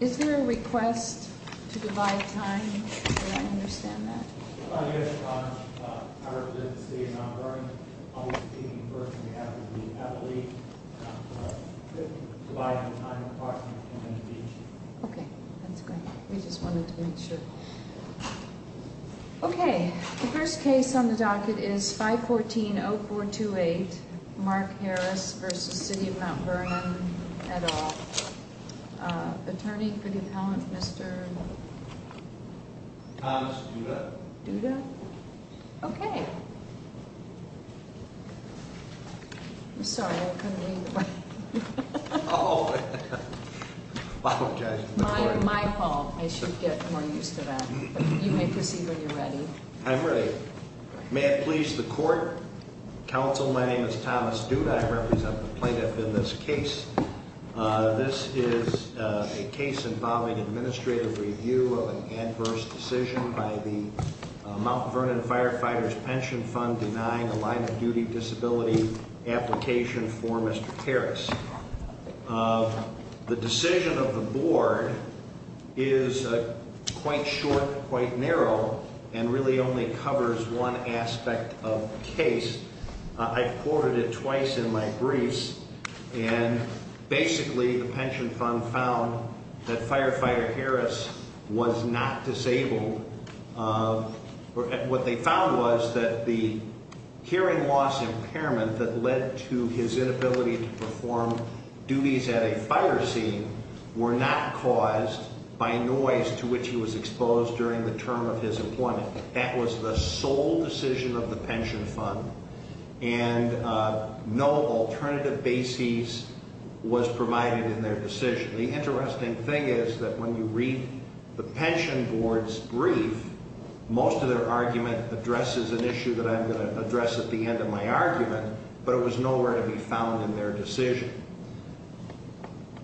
Is there a request to divide time? Do I understand that? Yes, Your Honor. I represent the City of Mt. Vernon. I'll be speaking first on behalf of the appellee. Divide the time approximately 10 minutes each. Okay. That's great. We just wanted to make sure. Okay. The first case on the docket is 514-0428, Mark Harris v. City of Mt. Vernon, et al. Attorney for the appellant, Mr.? Thomas Duda. Duda? Okay. I'm sorry. I couldn't read the writing. Oh. My apologies. My fault. I should get more used to that. You may proceed when you're ready. I'm ready. May it please the court? Counsel, my name is Thomas Duda. I represent the plaintiff in this case. This is a case involving administrative review of an adverse decision by the Mt. Vernon Firefighters' Pension Fund denying a line-of-duty disability application for Mr. Harris. The decision of the board is quite short, quite narrow, and really only covers one aspect of the case. I've quoted it twice in my briefs, and basically the Pension Fund found that Firefighter Harris was not disabled. What they found was that the hearing loss impairment that led to his inability to perform duties at a fire scene were not caused by noise to which he was exposed during the term of his employment. That was the sole decision of the Pension Fund, and no alternative basis was provided in their decision. The interesting thing is that when you read the pension board's brief, most of their argument addresses an issue that I'm going to address at the end of my argument, but it was nowhere to be found in their decision.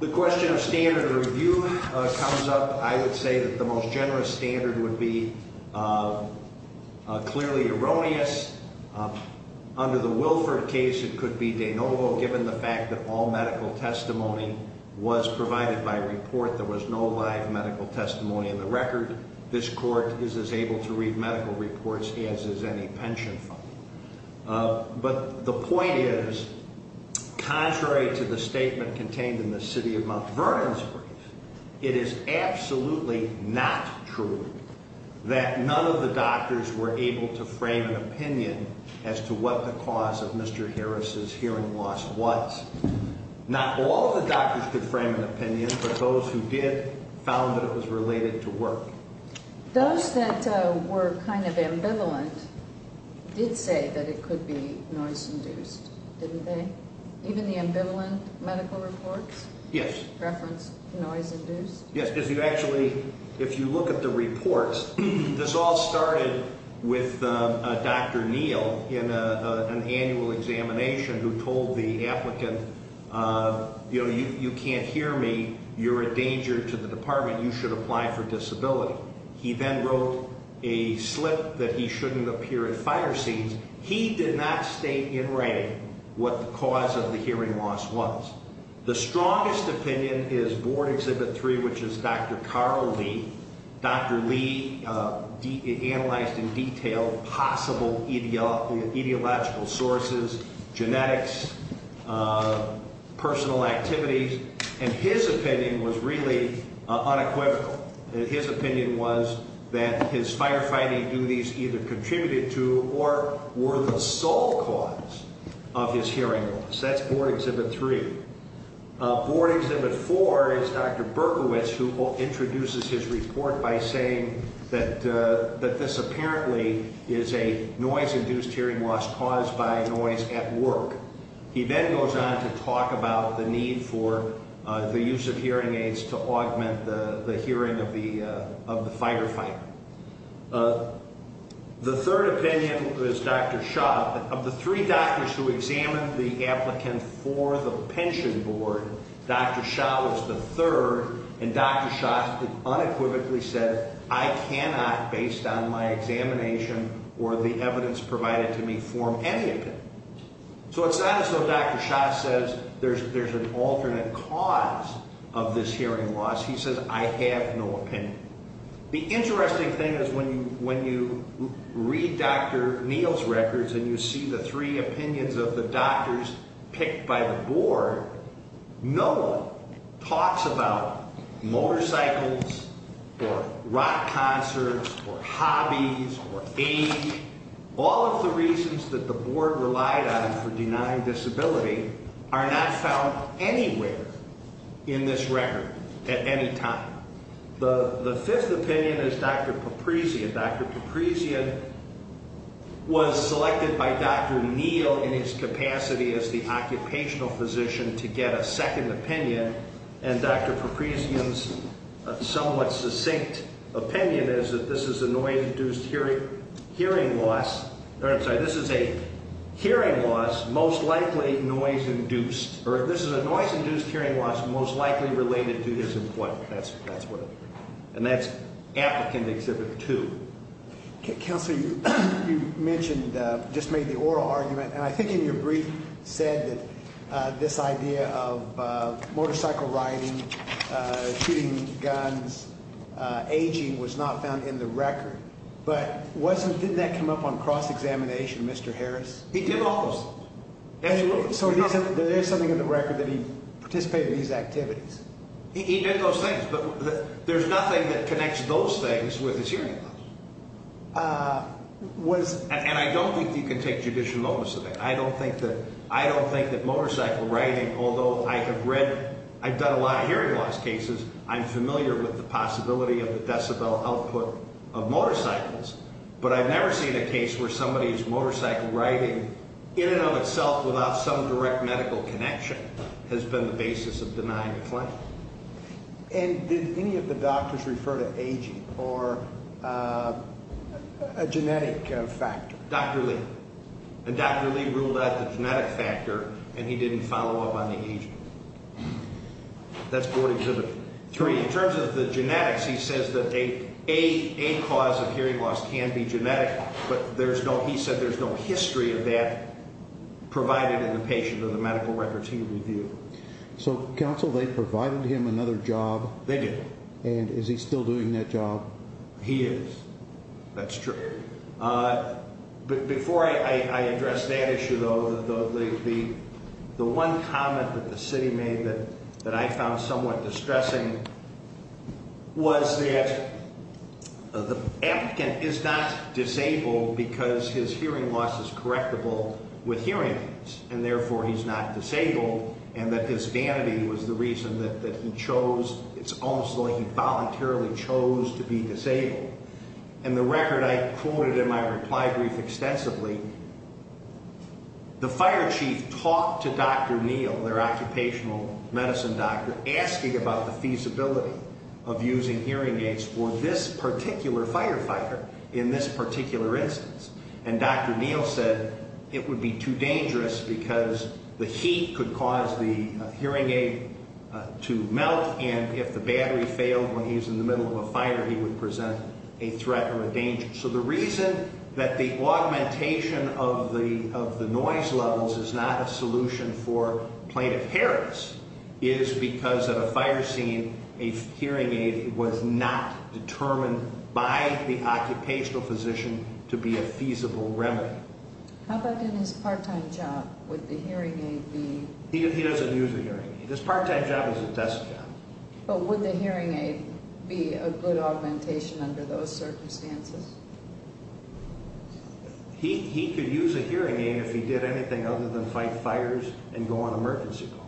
The question of standard review comes up. I would say that the most generous standard would be clearly erroneous. Under the Wilford case, it could be de novo given the fact that all medical testimony was provided by report. There was no live medical testimony in the record. This court is as able to read medical reports as is any pension fund. But the point is, contrary to the statement contained in the City of Mount Vernon's brief, it is absolutely not true that none of the doctors were able to frame an opinion as to what the cause of Mr. Harris' hearing loss was. Not all of the doctors could frame an opinion, but those who did found that it was related to work. Those that were kind of ambivalent did say that it could be noise-induced, didn't they? Even the ambivalent medical reports? Yes. Reference noise-induced? Yes, because you actually, if you look at the reports, this all started with Dr. Neal in an annual examination who told the applicant, you know, you can't hear me, you're a danger to the department, you should apply for disability. He then wrote a slip that he shouldn't appear in fire scenes. He did not state in writing what the cause of the hearing loss was. The strongest opinion is Board Exhibit 3, which is Dr. Carl Lee. Dr. Lee analyzed in detail possible ideological sources, genetics, personal activities, and his opinion was really unequivocal. His opinion was that his firefighting duties either contributed to or were the sole cause of his hearing loss. That's Board Exhibit 3. Board Exhibit 4 is Dr. Berkowitz, who introduces his report by saying that this apparently is a noise-induced hearing loss caused by noise at work. He then goes on to talk about the need for the use of hearing aids to augment the hearing of the firefighter. The third opinion is Dr. Shah. Of the three doctors who examined the applicant for the pension board, Dr. Shah was the third, and Dr. Shah unequivocally said, I cannot, based on my examination or the evidence provided to me, form any opinion. So it's not as though Dr. Shah says there's an alternate cause of this hearing loss. He says, I have no opinion. The interesting thing is when you read Dr. Neal's records and you see the three opinions of the doctors picked by the board, no one talks about motorcycles or rock concerts or hobbies or age. All of the reasons that the board relied on him for denying disability are not found anywhere in this record at any time. The fifth opinion is Dr. Papryzian. Dr. Papryzian was selected by Dr. Neal in his capacity as the occupational physician to get a second opinion, and Dr. Papryzian's somewhat succinct opinion is that this is a noise-induced hearing loss. I'm sorry, this is a hearing loss most likely noise-induced, or this is a noise-induced hearing loss most likely related to his employment. And that's applicant exhibit two. Counsel, you mentioned, just made the oral argument, and I think in your brief said that this idea of motorcycle riding, shooting guns, aging was not found in the record. But wasn't, didn't that come up on cross-examination, Mr. Harris? He did all those. Absolutely. So there is something in the record that he participated in these activities? He did those things, but there's nothing that connects those things with his hearing loss. And I don't think you can take judicial notice of it. I don't think that motorcycle riding, although I have read, I've done a lot of hearing loss cases, I'm familiar with the possibility of the decibel output of motorcycles. But I've never seen a case where somebody's motorcycle riding in and of itself without some direct medical connection has been the basis of denying a claim. And did any of the doctors refer to aging or a genetic factor? Dr. Lee. And Dr. Lee ruled out the genetic factor, and he didn't follow up on the aging. That's board exhibit three. In terms of the genetics, he says that a cause of hearing loss can be genetic, but there's no, he said there's no history of that provided in the patient or the medical records he reviewed. So, counsel, they provided him another job? They did. And is he still doing that job? He is. That's true. Before I address that issue, though, the one comment that the city made that I found somewhat distressing was that the applicant is not disabled because his hearing loss is correctable with hearing aids. And therefore, he's not disabled, and that his vanity was the reason that he chose, it's almost like he voluntarily chose to be disabled. And the record I quoted in my reply brief extensively, the fire chief talked to Dr. Neal, their occupational medicine doctor, asking about the feasibility of using hearing aids for this particular firefighter in this particular instance. And Dr. Neal said it would be too dangerous because the heat could cause the hearing aid to melt, and if the battery failed when he was in the middle of a fire, he would present a threat or a danger. So the reason that the augmentation of the noise levels is not a solution for plaintiff heritance is because at a fire scene, a hearing aid was not determined by the occupational physician to be a feasible remedy. How about in his part-time job, would the hearing aid be- He doesn't use a hearing aid. His part-time job is a test job. But would the hearing aid be a good augmentation under those circumstances? He could use a hearing aid if he did anything other than fight fires and go on emergency calls.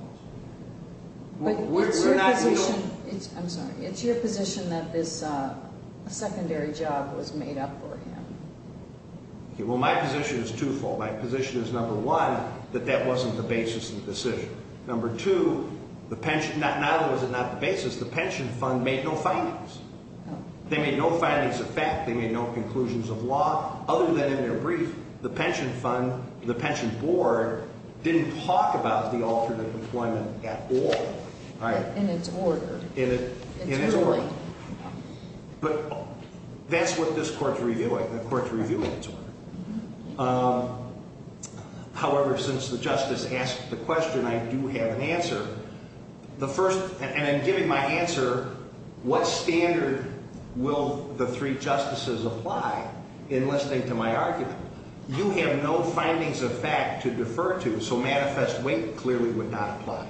But it's your position, I'm sorry, it's your position that this secondary job was made up for him. Well, my position is twofold. My position is, number one, that that wasn't the basis of the decision. Number two, not only was it not the basis, the pension fund made no findings. They made no findings of fact. They made no conclusions of law. Other than in their brief, the pension fund, the pension board, didn't talk about the alternate employment at all. In its order. In its order. But that's what this court's reviewing, the court's reviewing its order. However, since the justice asked the question, I do have an answer. The first, and I'm giving my answer, what standard will the three justices apply in listening to my argument? You have no findings of fact to defer to, so manifest weight clearly would not apply.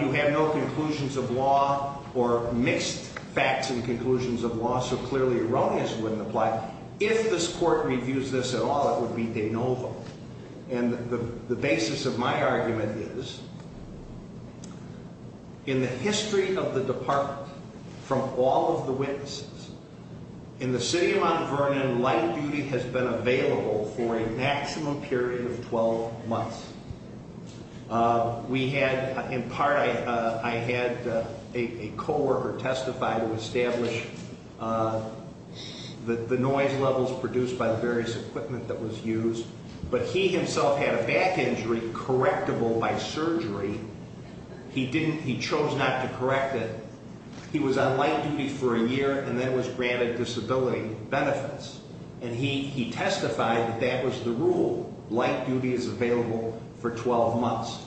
You have no conclusions of law or mixed facts and conclusions of law, so clearly erroneous wouldn't apply. If this court reviews this at all, it would be de novo. And the basis of my argument is, in the history of the department, from all of the witnesses, in the city of Mount Vernon, light duty has been available for a maximum period of 12 months. We had, in part, I had a co-worker testify to establish the noise levels produced by the various equipment that was used. But he himself had a back injury correctable by surgery. He didn't, he chose not to correct it. He was on light duty for a year and then was granted disability benefits. And he testified that that was the rule. Light duty is available for 12 months.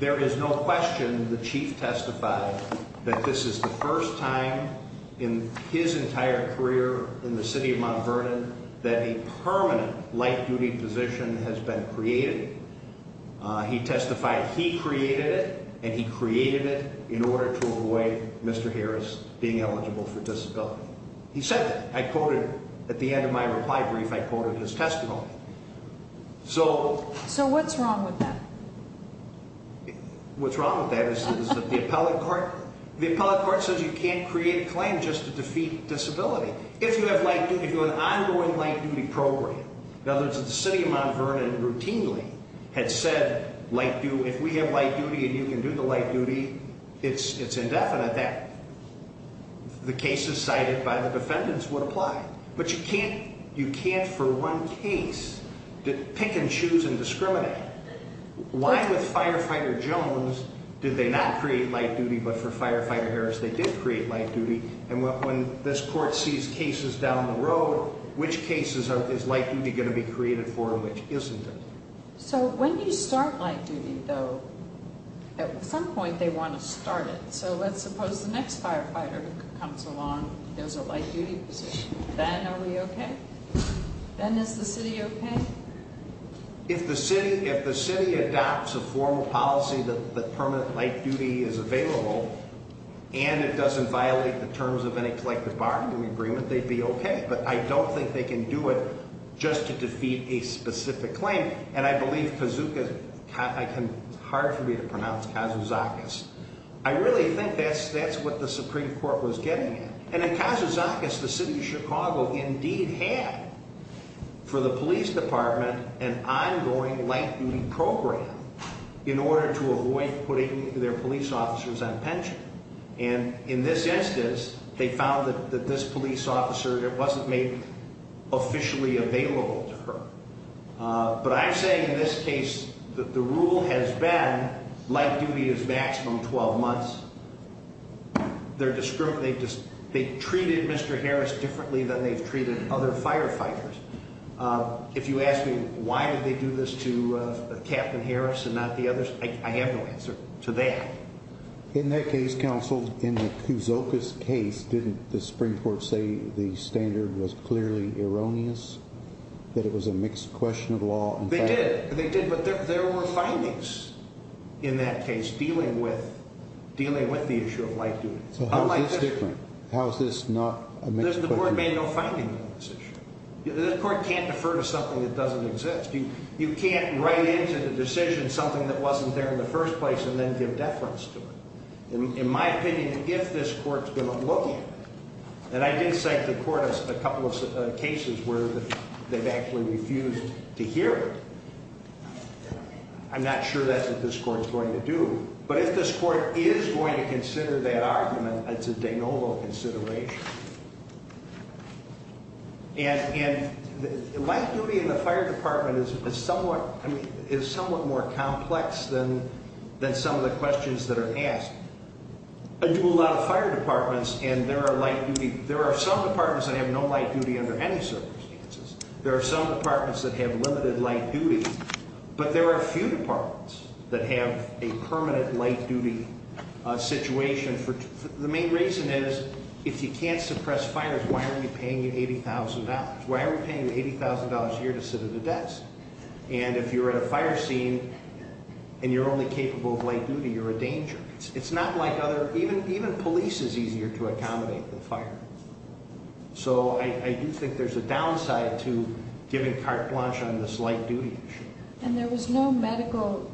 There is no question the chief testified that this is the first time in his entire career in the city of Mount Vernon that a permanent light duty position has been created. He testified he created it, and he created it in order to avoid Mr. Harris being eligible for disability. He said that. I quoted, at the end of my reply brief, I quoted his testimony. So. So what's wrong with that? What's wrong with that is that the appellate court, the appellate court says you can't create a claim just to defeat disability. If you have light duty, if you have an ongoing light duty program. In other words, if the city of Mount Vernon routinely had said, if we have light duty and you can do the light duty, it's indefinite that the cases cited by the defendants would apply. But you can't, you can't for one case pick and choose and discriminate. Why with Firefighter Jones did they not create light duty, but for Firefighter Harris they did create light duty? And when this court sees cases down the road, which cases is light duty going to be created for and which isn't it? So when you start light duty though, at some point they want to start it. So let's suppose the next firefighter comes along, there's a light duty position. Then are we okay? Then is the city okay? If the city, if the city adopts a formal policy that the permanent light duty is available. And it doesn't violate the terms of any collective bargaining agreement, they'd be okay. But I don't think they can do it just to defeat a specific claim. And I believe Kazuka, it's hard for me to pronounce, Kazuzakis. I really think that's, that's what the Supreme Court was getting at. And in Kazuzakis, the city of Chicago indeed had for the police department an ongoing light duty program. In order to avoid putting their police officers on pension. And in this instance, they found that this police officer wasn't made officially available to her. But I'm saying in this case that the rule has been light duty is maximum 12 months. They're discriminating, they've treated Mr. Harris differently than they've treated other firefighters. If you ask me why would they do this to Captain Harris and not the others, I have no answer to that. In that case, counsel, in the Kazuzakis case, didn't the Supreme Court say the standard was clearly erroneous? That it was a mixed question of law? They did, they did, but there were findings in that case dealing with, dealing with the issue of light duty. So how is this different? How is this not a mixed question? The board made no findings on this issue. The court can't defer to something that doesn't exist. You can't write into the decision something that wasn't there in the first place and then give deference to it. In my opinion, if this court's going to look at it, and I did cite the court a couple of cases where they've actually refused to hear it. I'm not sure that's what this court's going to do. But if this court is going to consider that argument, it's a de novo consideration. And light duty in the fire department is somewhat more complex than some of the questions that are asked. I do a lot of fire departments and there are light duty, there are some departments that have no light duty under any circumstances. There are some departments that have limited light duty. But there are a few departments that have a permanent light duty situation. The main reason is, if you can't suppress fires, why are we paying you $80,000? Why are we paying you $80,000 a year to sit at a desk? And if you're at a fire scene and you're only capable of light duty, you're a danger. It's not like other, even police is easier to accommodate than fire. So I do think there's a downside to giving carte blanche on this light duty issue. And there was no medical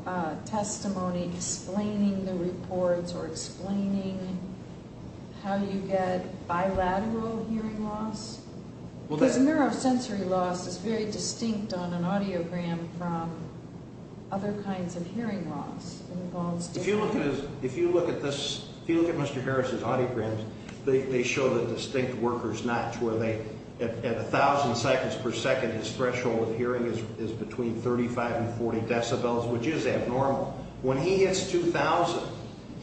testimony explaining the reports or explaining how you get bilateral hearing loss? Because a neurosensory loss is very distinct on an audiogram from other kinds of hearing loss. If you look at this, if you look at Mr. Harris's audiograms, they show the distinct worker's notch where they, at 1,000 seconds per second, his threshold of hearing is between 35 and 40 decibels, which is abnormal. When he hits 2,000,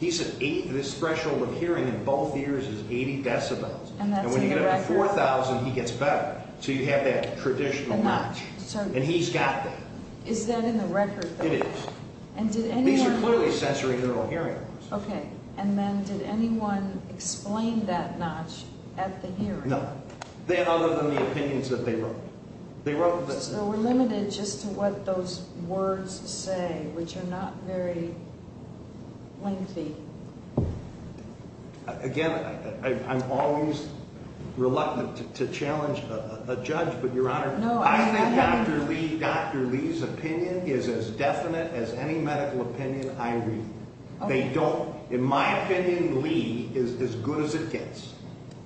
this threshold of hearing in both ears is 80 decibels. And when you get up to 4,000, he gets better. So you have that traditional notch. And he's got that. Is that in the record? It is. These are clearly sensorineural hearing loss. Okay. And then did anyone explain that notch at the hearing? No. Then other than the opinions that they wrote. So we're limited just to what those words say, which are not very lengthy. Again, I'm always reluctant to challenge a judge. But, Your Honor, I think Dr. Lee's opinion is as definite as any medical opinion I read. In my opinion, Lee is as good as it gets.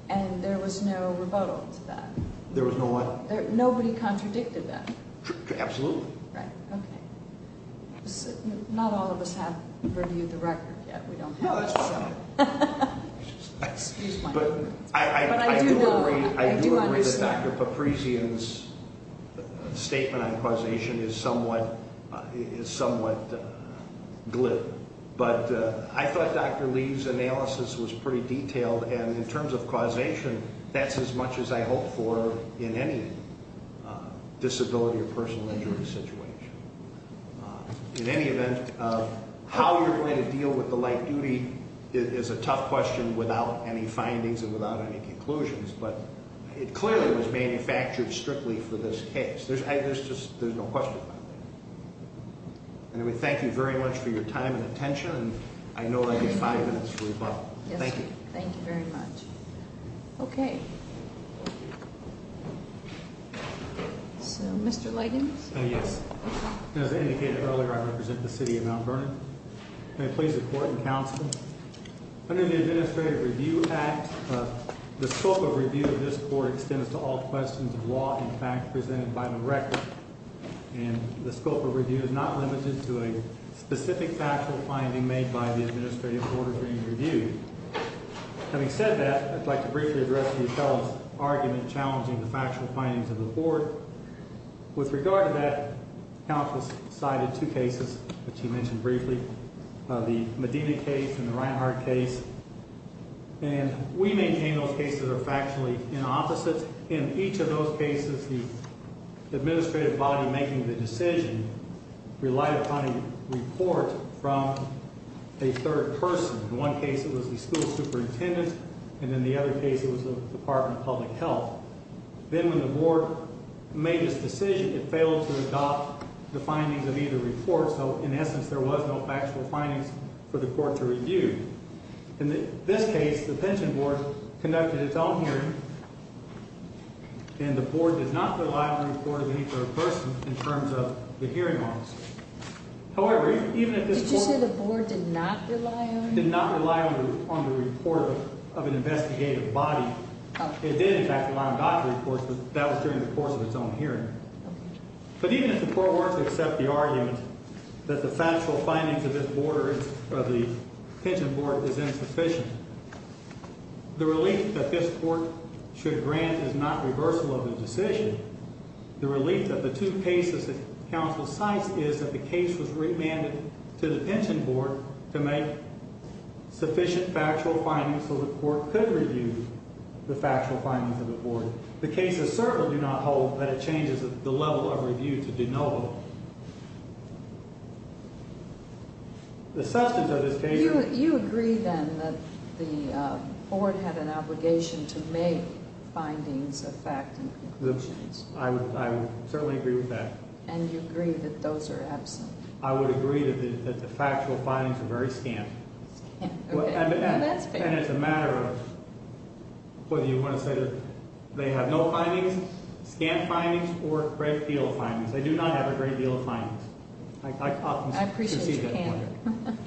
And there was no rebuttal to that? There was no what? Nobody contradicted that? Absolutely. Right. Okay. Not all of us have reviewed the record yet. We don't have it. No, that's fine. But I do agree that Dr. Papryzian's statement on causation is somewhat glib. But I thought Dr. Lee's analysis was pretty detailed. And in terms of causation, that's as much as I hope for in any disability or personal injury situation. In any event, how you're going to deal with the light duty is a tough question without any findings and without any conclusions. But it clearly was manufactured strictly for this case. There's no question about that. And we thank you very much for your time and attention. And I know I gave five minutes for rebuttal. Thank you. Thank you very much. Okay. So, Mr. Lightings? Yes. As I indicated earlier, I represent the city of Mount Vernon. May I please report in counsel? Under the Administrative Review Act, the scope of review of this court extends to all questions of law and fact presented by the record. And the scope of review is not limited to a specific factual finding made by the administrative board during the review. Having said that, I'd like to briefly address the appellant's argument challenging the factual findings of the board. With regard to that, counsel has cited two cases, which he mentioned briefly, the Medina case and the Reinhart case. And we maintain those cases are factually inopposite. In each of those cases, the administrative body making the decision relied upon a report from a third person. In one case, it was the school superintendent. And in the other case, it was the Department of Public Health. Then when the board made this decision, it failed to adopt the findings of either report. So, in essence, there was no factual findings for the court to review. In this case, the pension board conducted its own hearing, and the board did not rely on the report of any third person in terms of the hearing arms. However, even if this board… Did you say the board did not rely on it? Did not rely on the report of an investigative body. It did, in fact, rely on doctorate reports, but that was during the course of its own hearing. But even if the court were to accept the argument that the factual findings of this board or the pension board is insufficient, the relief that this court should grant is not reversal of the decision. The relief of the two cases that counsel cites is that the case was remanded to the pension board to make sufficient factual findings so the court could review the factual findings of the board. The cases certainly do not hold that it changes the level of review to de novo. The substance of this case… You agree, then, that the board had an obligation to make findings of fact and conclusions. I certainly agree with that. And you agree that those are absent. I would agree that the factual findings are very scant. Now that's fair. And it's a matter of whether you want to say that they have no findings, scant findings, or a great deal of findings. They do not have a great deal of findings. I appreciate that point.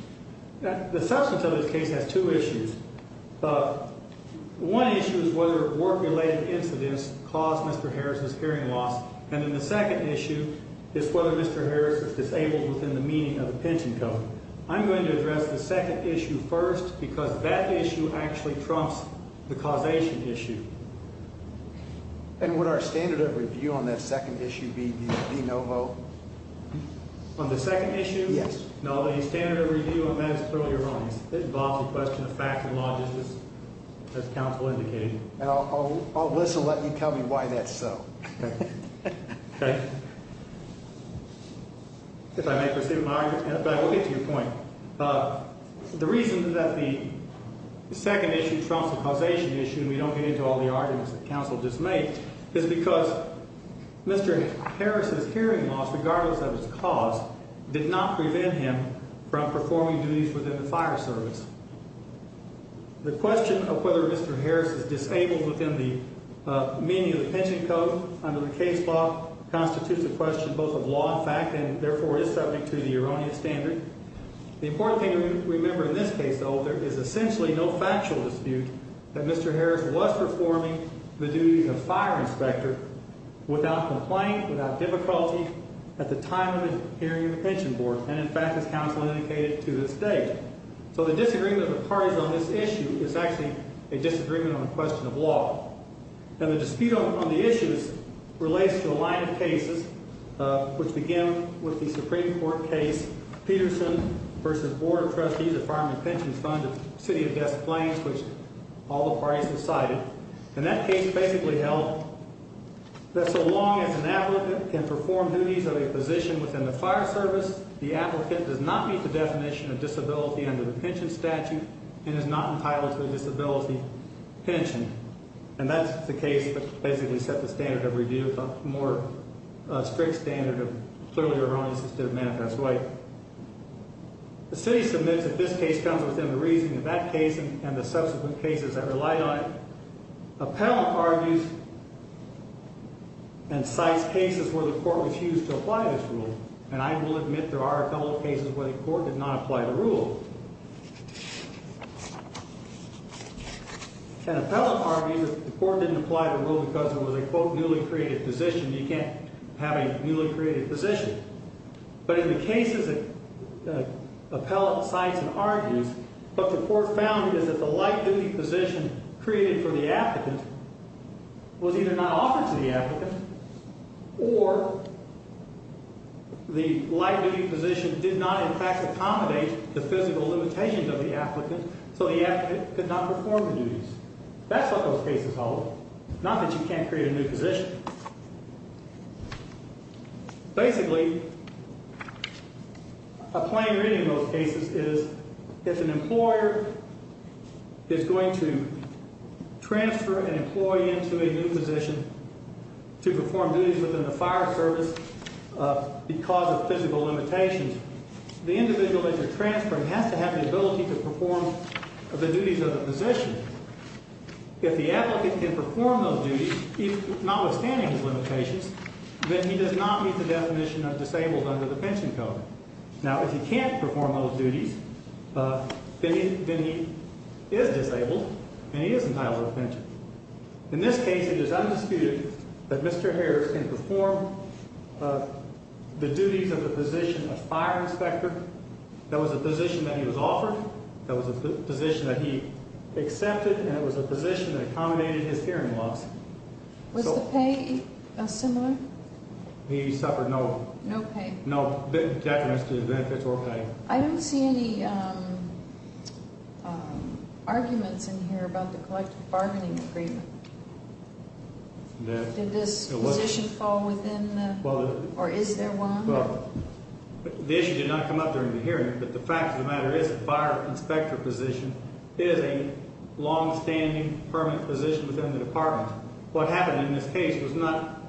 The substance of this case has two issues. One issue is whether work-related incidents caused Mr. Harris's hearing loss. And then the second issue is whether Mr. Harris was disabled within the meaning of the pension code. I'm going to address the second issue first because that issue actually trumps the causation issue. And would our standard of review on that second issue be de novo? On the second issue? Yes. No, the standard of review on that is clearly wrong. It involves a question of fact and logic, as counsel indicated. And I'll whistle and let you tell me why that's so. Okay. Okay. If I may proceed with my argument, I will get to your point. The reason that the second issue trumps the causation issue, and we don't get into all the arguments that counsel just made, is because Mr. Harris's hearing loss, regardless of its cause, did not prevent him from performing duties within the fire service. The question of whether Mr. Harris is disabled within the meaning of the pension code under the case law constitutes a question both of law and fact and, therefore, is subject to the erroneous standard. The important thing to remember in this case, though, is essentially no factual dispute that Mr. Harris was performing the duties of fire inspector without complaint, without difficulty, at the time of the hearing of the pension board. And, in fact, as counsel indicated, to this day. So the disagreement of the parties on this issue is actually a disagreement on a question of law. And the dispute on the issues relates to a line of cases, which begin with the Supreme Court case, Peterson v. Board of Trustees of Fireman Pensions Fund of City of Des Plaines, which all the parties have cited. And that case basically held that so long as an applicant can perform duties of a position within the fire service, the applicant does not meet the definition of disability under the pension statute and is not entitled to a disability pension. And that's the case that basically set the standard of review, the more strict standard of clearly erroneous instead of manifest right. The city submits that this case comes within the reasoning of that case and the subsequent cases that relied on it. Appellant argues and cites cases where the court refused to apply this rule. And I will admit there are a couple of cases where the court did not apply the rule. An appellant argued that the court didn't apply the rule because it was a, quote, newly created position. You can't have a newly created position. But in the cases that appellant cites and argues, what the court found is that the light duty position created for the applicant was either not offered to the applicant or the light duty position did not in fact accommodate the physical limitations of the applicant, so the applicant could not perform the duties. That's what those cases hold, not that you can't create a new position. Basically, a plain reading of those cases is if an employer is going to transfer an employee into a new position to perform duties within the fire service because of physical limitations, the individual that you're transferring has to have the ability to perform the duties of the position. If the applicant can perform those duties, notwithstanding his limitations, then he does not meet the definition of disabled under the pension code. Now, if he can't perform those duties, then he is disabled and he is entitled to a pension. In this case, it is undisputed that Mr. Harris can perform the duties of the position of fire inspector. That was a position that he was offered. That was a position that he accepted, and it was a position that accommodated his hearing loss. Was the pay similar? He suffered no. No pay. No definite benefits or pay. I don't see any arguments in here about the collective bargaining agreement. Did this position fall within or is there one? Well, the issue did not come up during the hearing, but the fact of the matter is the fire inspector position is a longstanding permanent position within the department. What happened in this case was not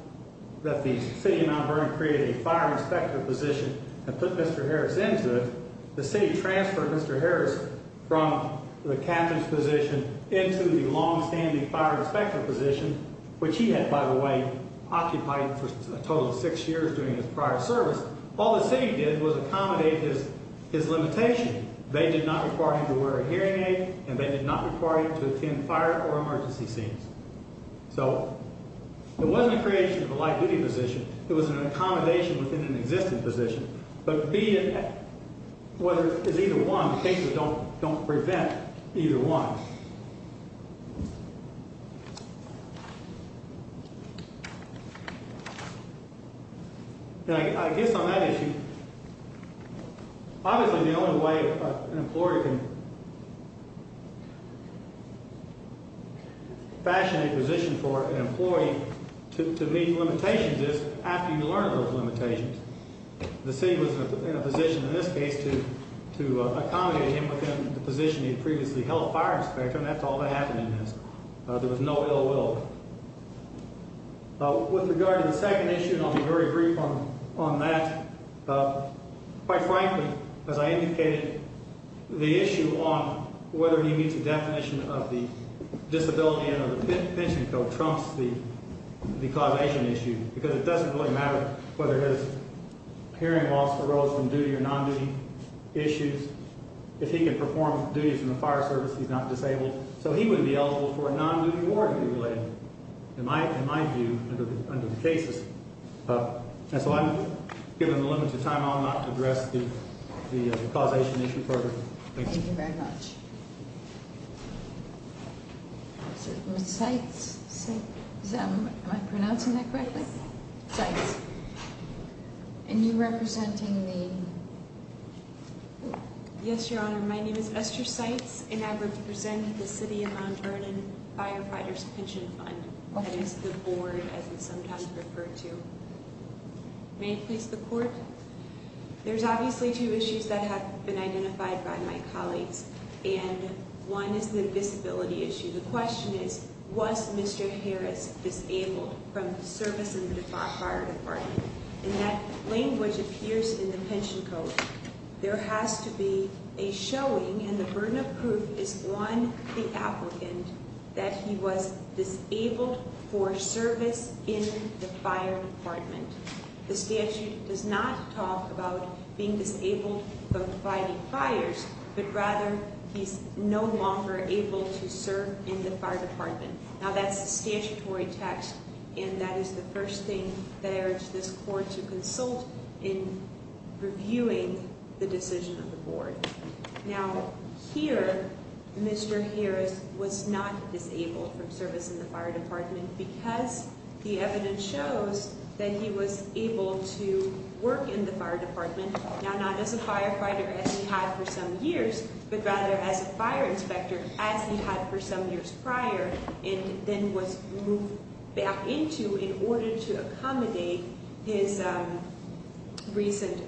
that the city of Mount Vernon created a fire inspector position and put Mr. Harris into it. The city transferred Mr. Harris from the captain's position into the longstanding fire inspector position, which he had, by the way, occupied for a total of six years during his prior service. All the city did was accommodate his limitation. They did not require him to wear a hearing aid, and they did not require him to attend fire or emergency scenes. So it wasn't a creation of a light-duty position. It was an accommodation within an existing position. But, B, whether it's either one, the cases don't prevent either one. Now, I guess on that issue, obviously the only way an employer can fashion a position for an employee to meet limitations is after you learn those limitations. The city was in a position in this case to accommodate him within the position he had previously held fire inspector, and that's all that happened in this. There was no ill will. With regard to the second issue, and I'll be very brief on that, quite frankly, as I indicated, the issue on whether he meets the definition of the disability and pension code trumps the causation issue, because it doesn't really matter whether his hearing loss arose from duty or non-duty issues. If he can perform duties in the fire service, he's not disabled. So he would be eligible for a non-duty warranty related, in my view, under the cases. And so I've given the limit to time. I'll not address the causation issue further. Thank you. Thank you very much. Ms. Seitz? Am I pronouncing that correctly? Seitz. And you representing the? Yes, Your Honor. My name is Esther Seitz, and I represent the city of Mount Vernon Firefighters Pension Fund. That is the board, as it's sometimes referred to. May I please have the court? There's obviously two issues that have been identified by my colleagues, and one is the disability issue. The question is, was Mr. Harris disabled from service in the fire department? And that language appears in the pension code. There has to be a showing, and the burden of proof is, one, the applicant, that he was disabled for service in the fire department. The statute does not talk about being disabled from fighting fires, but rather, he's no longer able to serve in the fire department. Now, that's the statutory text, and that is the first thing that I urge this court to consult in reviewing the decision of the board. Now, here, Mr. Harris was not disabled from service in the fire department because the evidence shows that he was able to work in the fire department. Now, not as a firefighter, as he had for some years, but rather as a fire inspector, as he had for some years prior, and then was moved back into in order to accommodate his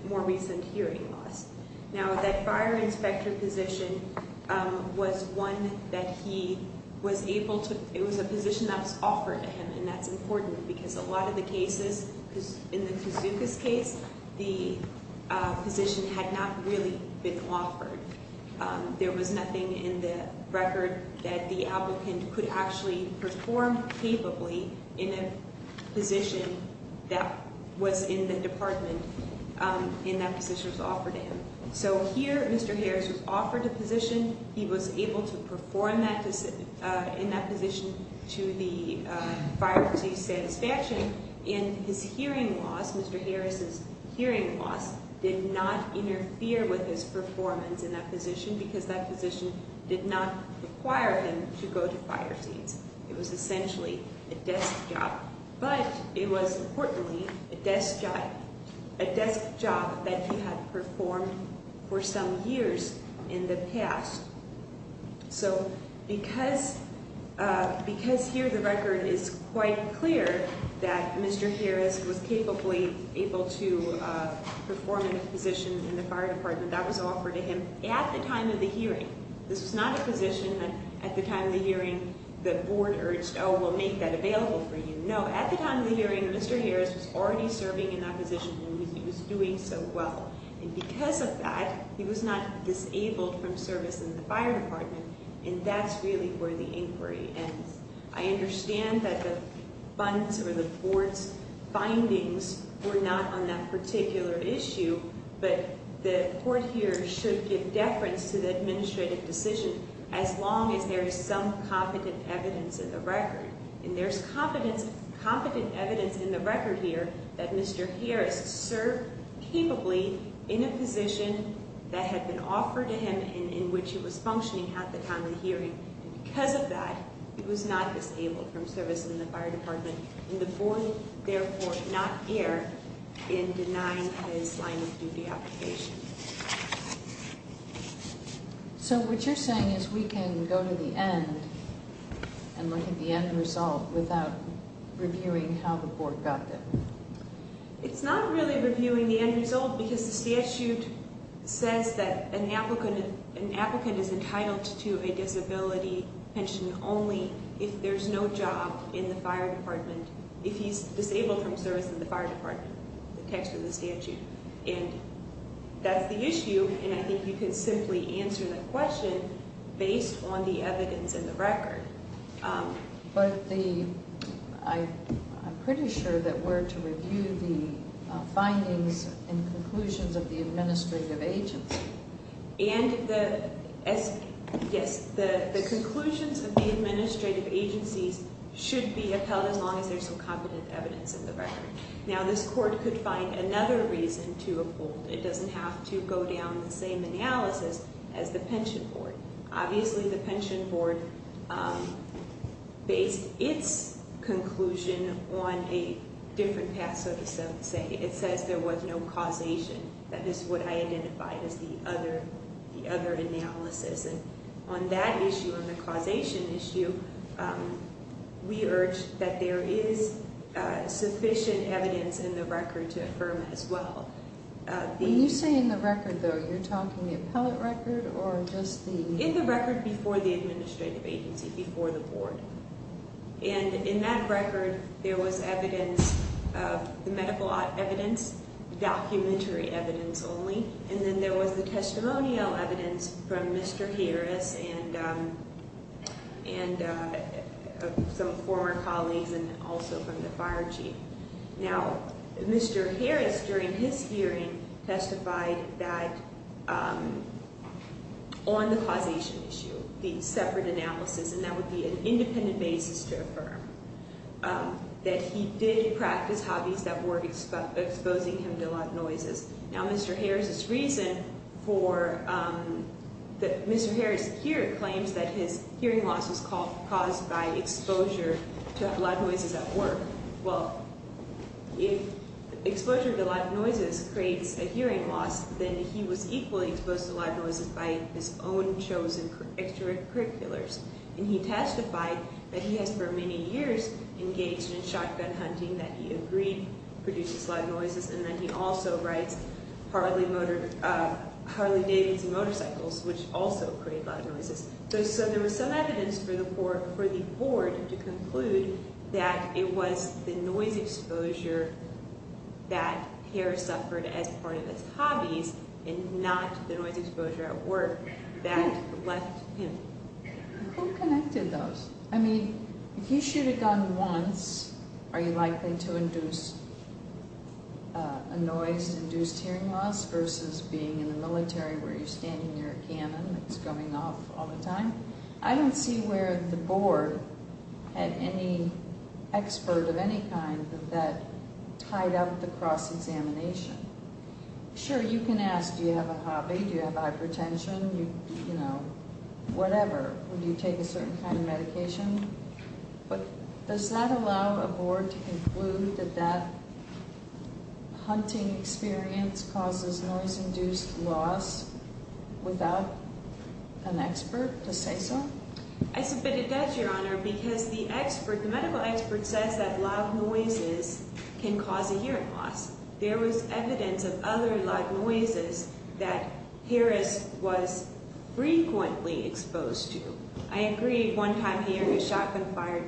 more recent hearing loss. Now, that fire inspector position was one that he was able to, it was a position that was offered to him, and that's important because a lot of the cases, in the Kazuka's case, the position had not really been offered. There was nothing in the record that the applicant could actually perform capably in a position that was in the department, and that position was offered to him. So, here, Mr. Harris was offered a position. He was able to perform in that position to the fire chief's satisfaction, and his hearing loss, Mr. Harris' hearing loss, did not interfere with his performance in that position because that position did not require him to go to fire scenes. It was essentially a desk job, but it was, importantly, a desk job that he had performed for some years in the past. So, because here the record is quite clear that Mr. Harris was capably able to perform in a position in the fire department, that was offered to him at the time of the hearing. This was not a position that, at the time of the hearing, the board urged, oh, we'll make that available for you. No, at the time of the hearing, Mr. Harris was already serving in that position, and he was doing so well. And because of that, he was not disabled from service in the fire department, and that's really where the inquiry ends. I understand that the funds or the board's findings were not on that particular issue, but the court here should give deference to the administrative decision as long as there is some competent evidence in the record. And there's competent evidence in the record here that Mr. Harris served capably in a position that had been offered to him in which he was functioning at the time of the hearing. And because of that, he was not disabled from service in the fire department, and the board, therefore, did not err in denying his line of duty application. So what you're saying is we can go to the end and look at the end result without reviewing how the board got that? It's not really reviewing the end result because the statute says that an applicant is entitled to a disability pension only if there's no job in the fire department, if he's disabled from service in the fire department. The text of the statute. And that's the issue, and I think you could simply answer that question based on the evidence in the record. But the—I'm pretty sure that we're to review the findings and conclusions of the administrative agency. And the—yes, the conclusions of the administrative agencies should be upheld as long as there's some competent evidence in the record. Now, this court could find another reason to uphold. It doesn't have to go down the same analysis as the pension board. Obviously, the pension board based its conclusion on a different path, so to say. It says there was no causation. That is what I identified as the other analysis. And on that issue, on the causation issue, we urge that there is sufficient evidence in the record to affirm it as well. When you say in the record, though, you're talking the appellate record or just the— In the record before the administrative agency, before the board. And in that record, there was evidence of—the medical evidence, documentary evidence only. And then there was the testimonial evidence from Mr. Harris and some former colleagues and also from the fire chief. Now, Mr. Harris, during his hearing, testified that—on the causation issue, the separate analysis. And that would be an independent basis to affirm that he did practice hobbies that were exposing him to loud noises. Now, Mr. Harris's reason for—Mr. Harris here claims that his hearing loss was caused by exposure to loud noises at work. Well, if exposure to loud noises creates a hearing loss, then he was equally exposed to loud noises by his own chosen extracurriculars. And he testified that he has for many years engaged in shotgun hunting, that he agreed produces loud noises. And then he also writes Harley-Davidson motorcycles, which also create loud noises. So there was some evidence for the board to conclude that it was the noise exposure that Harris suffered as part of his hobbies and not the noise exposure at work that left him. Who connected those? I mean, if you shoot a gun once, are you likely to induce a noise-induced hearing loss versus being in the military where you're standing near a cannon that's going off all the time? I don't see where the board had any expert of any kind that tied up the cross-examination. Sure, you can ask, do you have a hobby? Do you have hypertension? You know, whatever. Would you take a certain kind of medication? But does that allow a board to conclude that that hunting experience causes noise-induced loss without an expert to say so? I submit it does, Your Honor, because the expert, the medical expert, says that loud noises can cause a hearing loss. There was evidence of other loud noises that Harris was frequently exposed to. I agree one time he heard a shotgun fired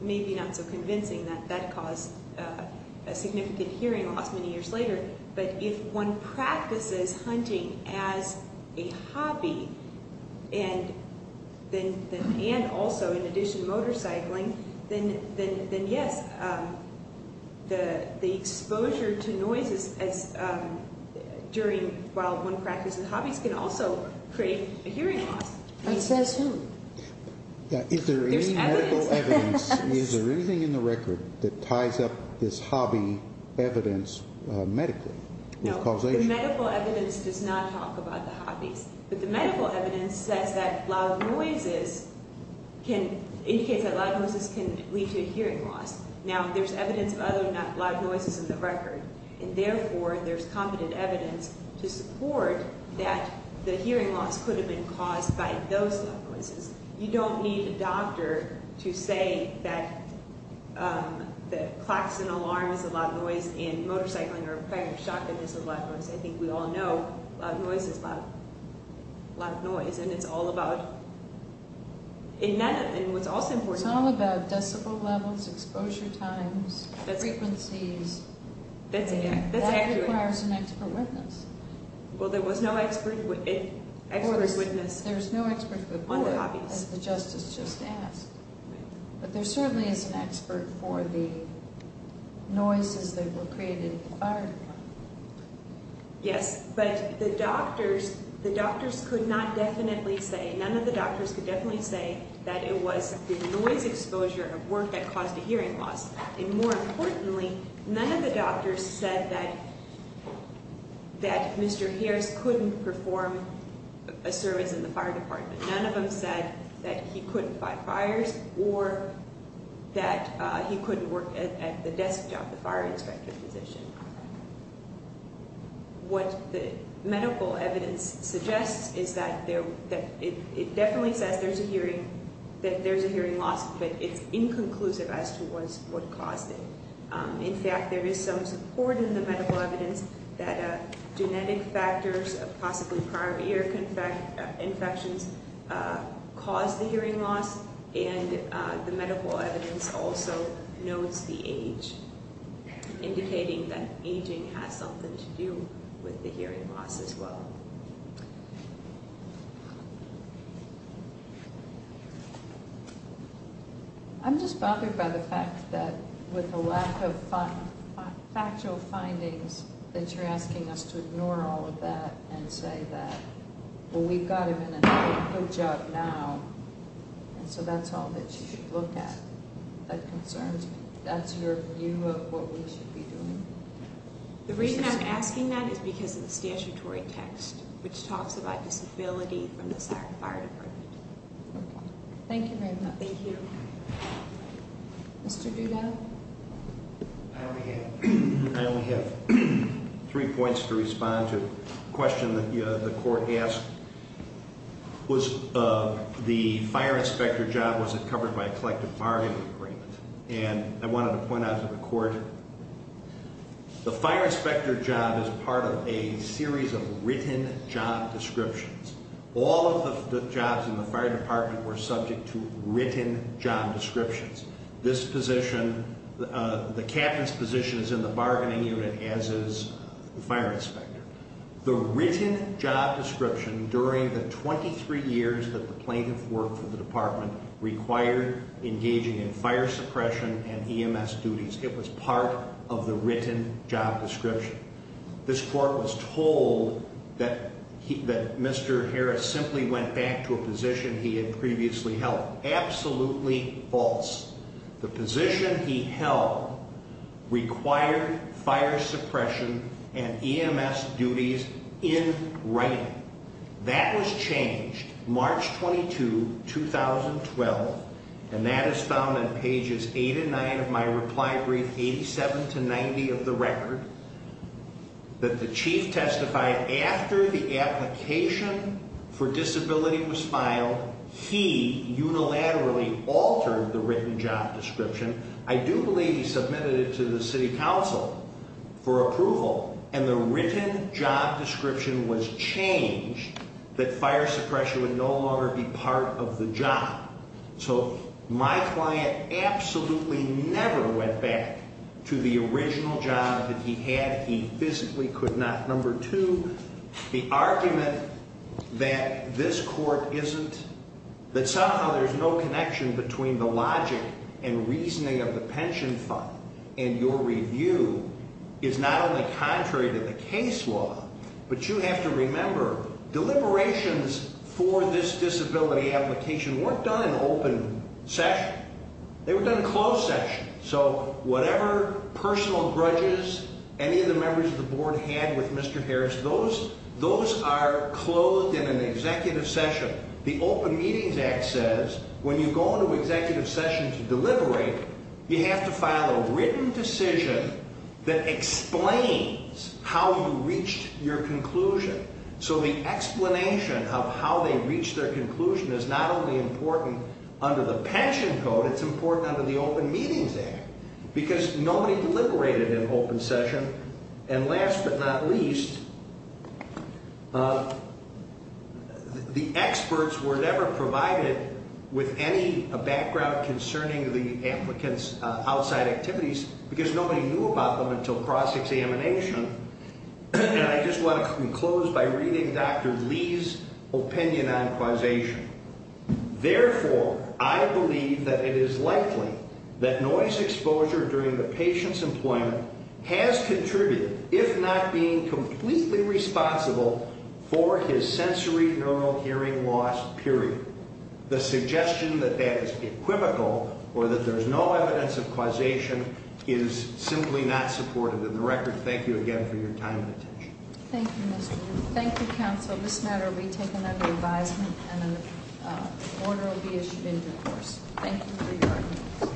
may be not so convincing that that caused a significant hearing loss many years later. But if one practices hunting as a hobby and also, in addition, motorcycling, then yes, the exposure to noises while one practices hobbies can also create a hearing loss. That says who? Is there any medical evidence, is there anything in the record that ties up this hobby evidence medically with causation? No, the medical evidence does not talk about the hobbies. But the medical evidence says that loud noises can, indicates that loud noises can lead to a hearing loss. Now, there's evidence of other loud noises in the record. And therefore, there's competent evidence to support that the hearing loss could have been caused by those loud noises. You don't need a doctor to say that the klaxon alarm is a loud noise and motorcycling or firing a shotgun is a loud noise. I think we all know loud noise is loud, loud noise. And it's all about, and what's also important. It's all about decibel levels, exposure times, frequencies. That's accurate. That requires an expert witness. Well, there was no expert witness on the hobbies. There was no expert before, as the justice just asked. But there certainly is an expert for the noises that were created by firing one. Yes, but the doctors could not definitely say, none of the doctors could definitely say that it was the noise exposure of work that caused the hearing loss. And more importantly, none of the doctors said that Mr. Harris couldn't perform a service in the fire department. None of them said that he couldn't fight fires or that he couldn't work at the desk job, the fire inspector's position. What the medical evidence suggests is that it definitely says there's a hearing loss, but it's inconclusive as to what caused it. In fact, there is some support in the medical evidence that genetic factors, possibly prior ear infections, caused the hearing loss. And the medical evidence also notes the age, indicating that aging has something to do with the hearing loss as well. I'm just bothered by the fact that, with the lack of factual findings, that you're asking us to ignore all of that and say that, well, we've got him in a good job now, and so that's all that you should look at. That concerns me. That's your view of what we should be doing? The reason I'm asking that is because of the statutory text, which talks about disability from the fire department. Thank you very much. Thank you. Mr. Duda? I only have three points to respond to. The question that the court asked was, the fire inspector job, was it covered by a collective bargaining agreement? And I wanted to point out to the court, the fire inspector job is part of a series of written job descriptions. All of the jobs in the fire department were subject to written job descriptions. This position, the captain's position is in the bargaining unit, as is the fire inspector. The written job description during the 23 years that the plaintiff worked for the department required engaging in fire suppression and EMS duties. It was part of the written job description. This court was told that Mr. Harris simply went back to a position he had previously held. Absolutely false. The position he held required fire suppression and EMS duties in writing. That was changed March 22, 2012, and that is found on pages 8 and 9 of my reply brief, 87 to 90 of the record. That the chief testified after the application for disability was filed, he unilaterally altered the written job description. I do believe he submitted it to the city council for approval, and the written job description was changed that fire suppression would no longer be part of the job. So my client absolutely never went back to the original job that he had. He physically could not. Number two, the argument that this court isn't, that somehow there's no connection between the logic and reasoning of the pension fund and your review is not only contrary to the case law, but you have to remember deliberations for this disability application weren't done in open session. They were done in closed session. So whatever personal grudges any of the members of the board had with Mr. Harris, those are clothed in an executive session. The Open Meetings Act says when you go into executive session to deliberate, you have to file a written decision that explains how you reached your conclusion. So the explanation of how they reached their conclusion is not only important under the pension code, it's important under the Open Meetings Act because nobody deliberated in open session. And last but not least, the experts were never provided with any background concerning the applicant's outside activities because nobody knew about them until cross examination. And I just want to close by reading Dr. Lee's opinion on causation. Therefore, I believe that it is likely that noise exposure during the patient's employment has contributed, if not being completely responsible, for his sensorineural hearing loss, period. The suggestion that that is equivocal or that there's no evidence of causation is simply not supported in the record. Thank you again for your time and attention. Thank you, Mr. Lee. Thank you, counsel. This matter will be taken under advisement and an order will be issued in due course. Thank you for your arguments.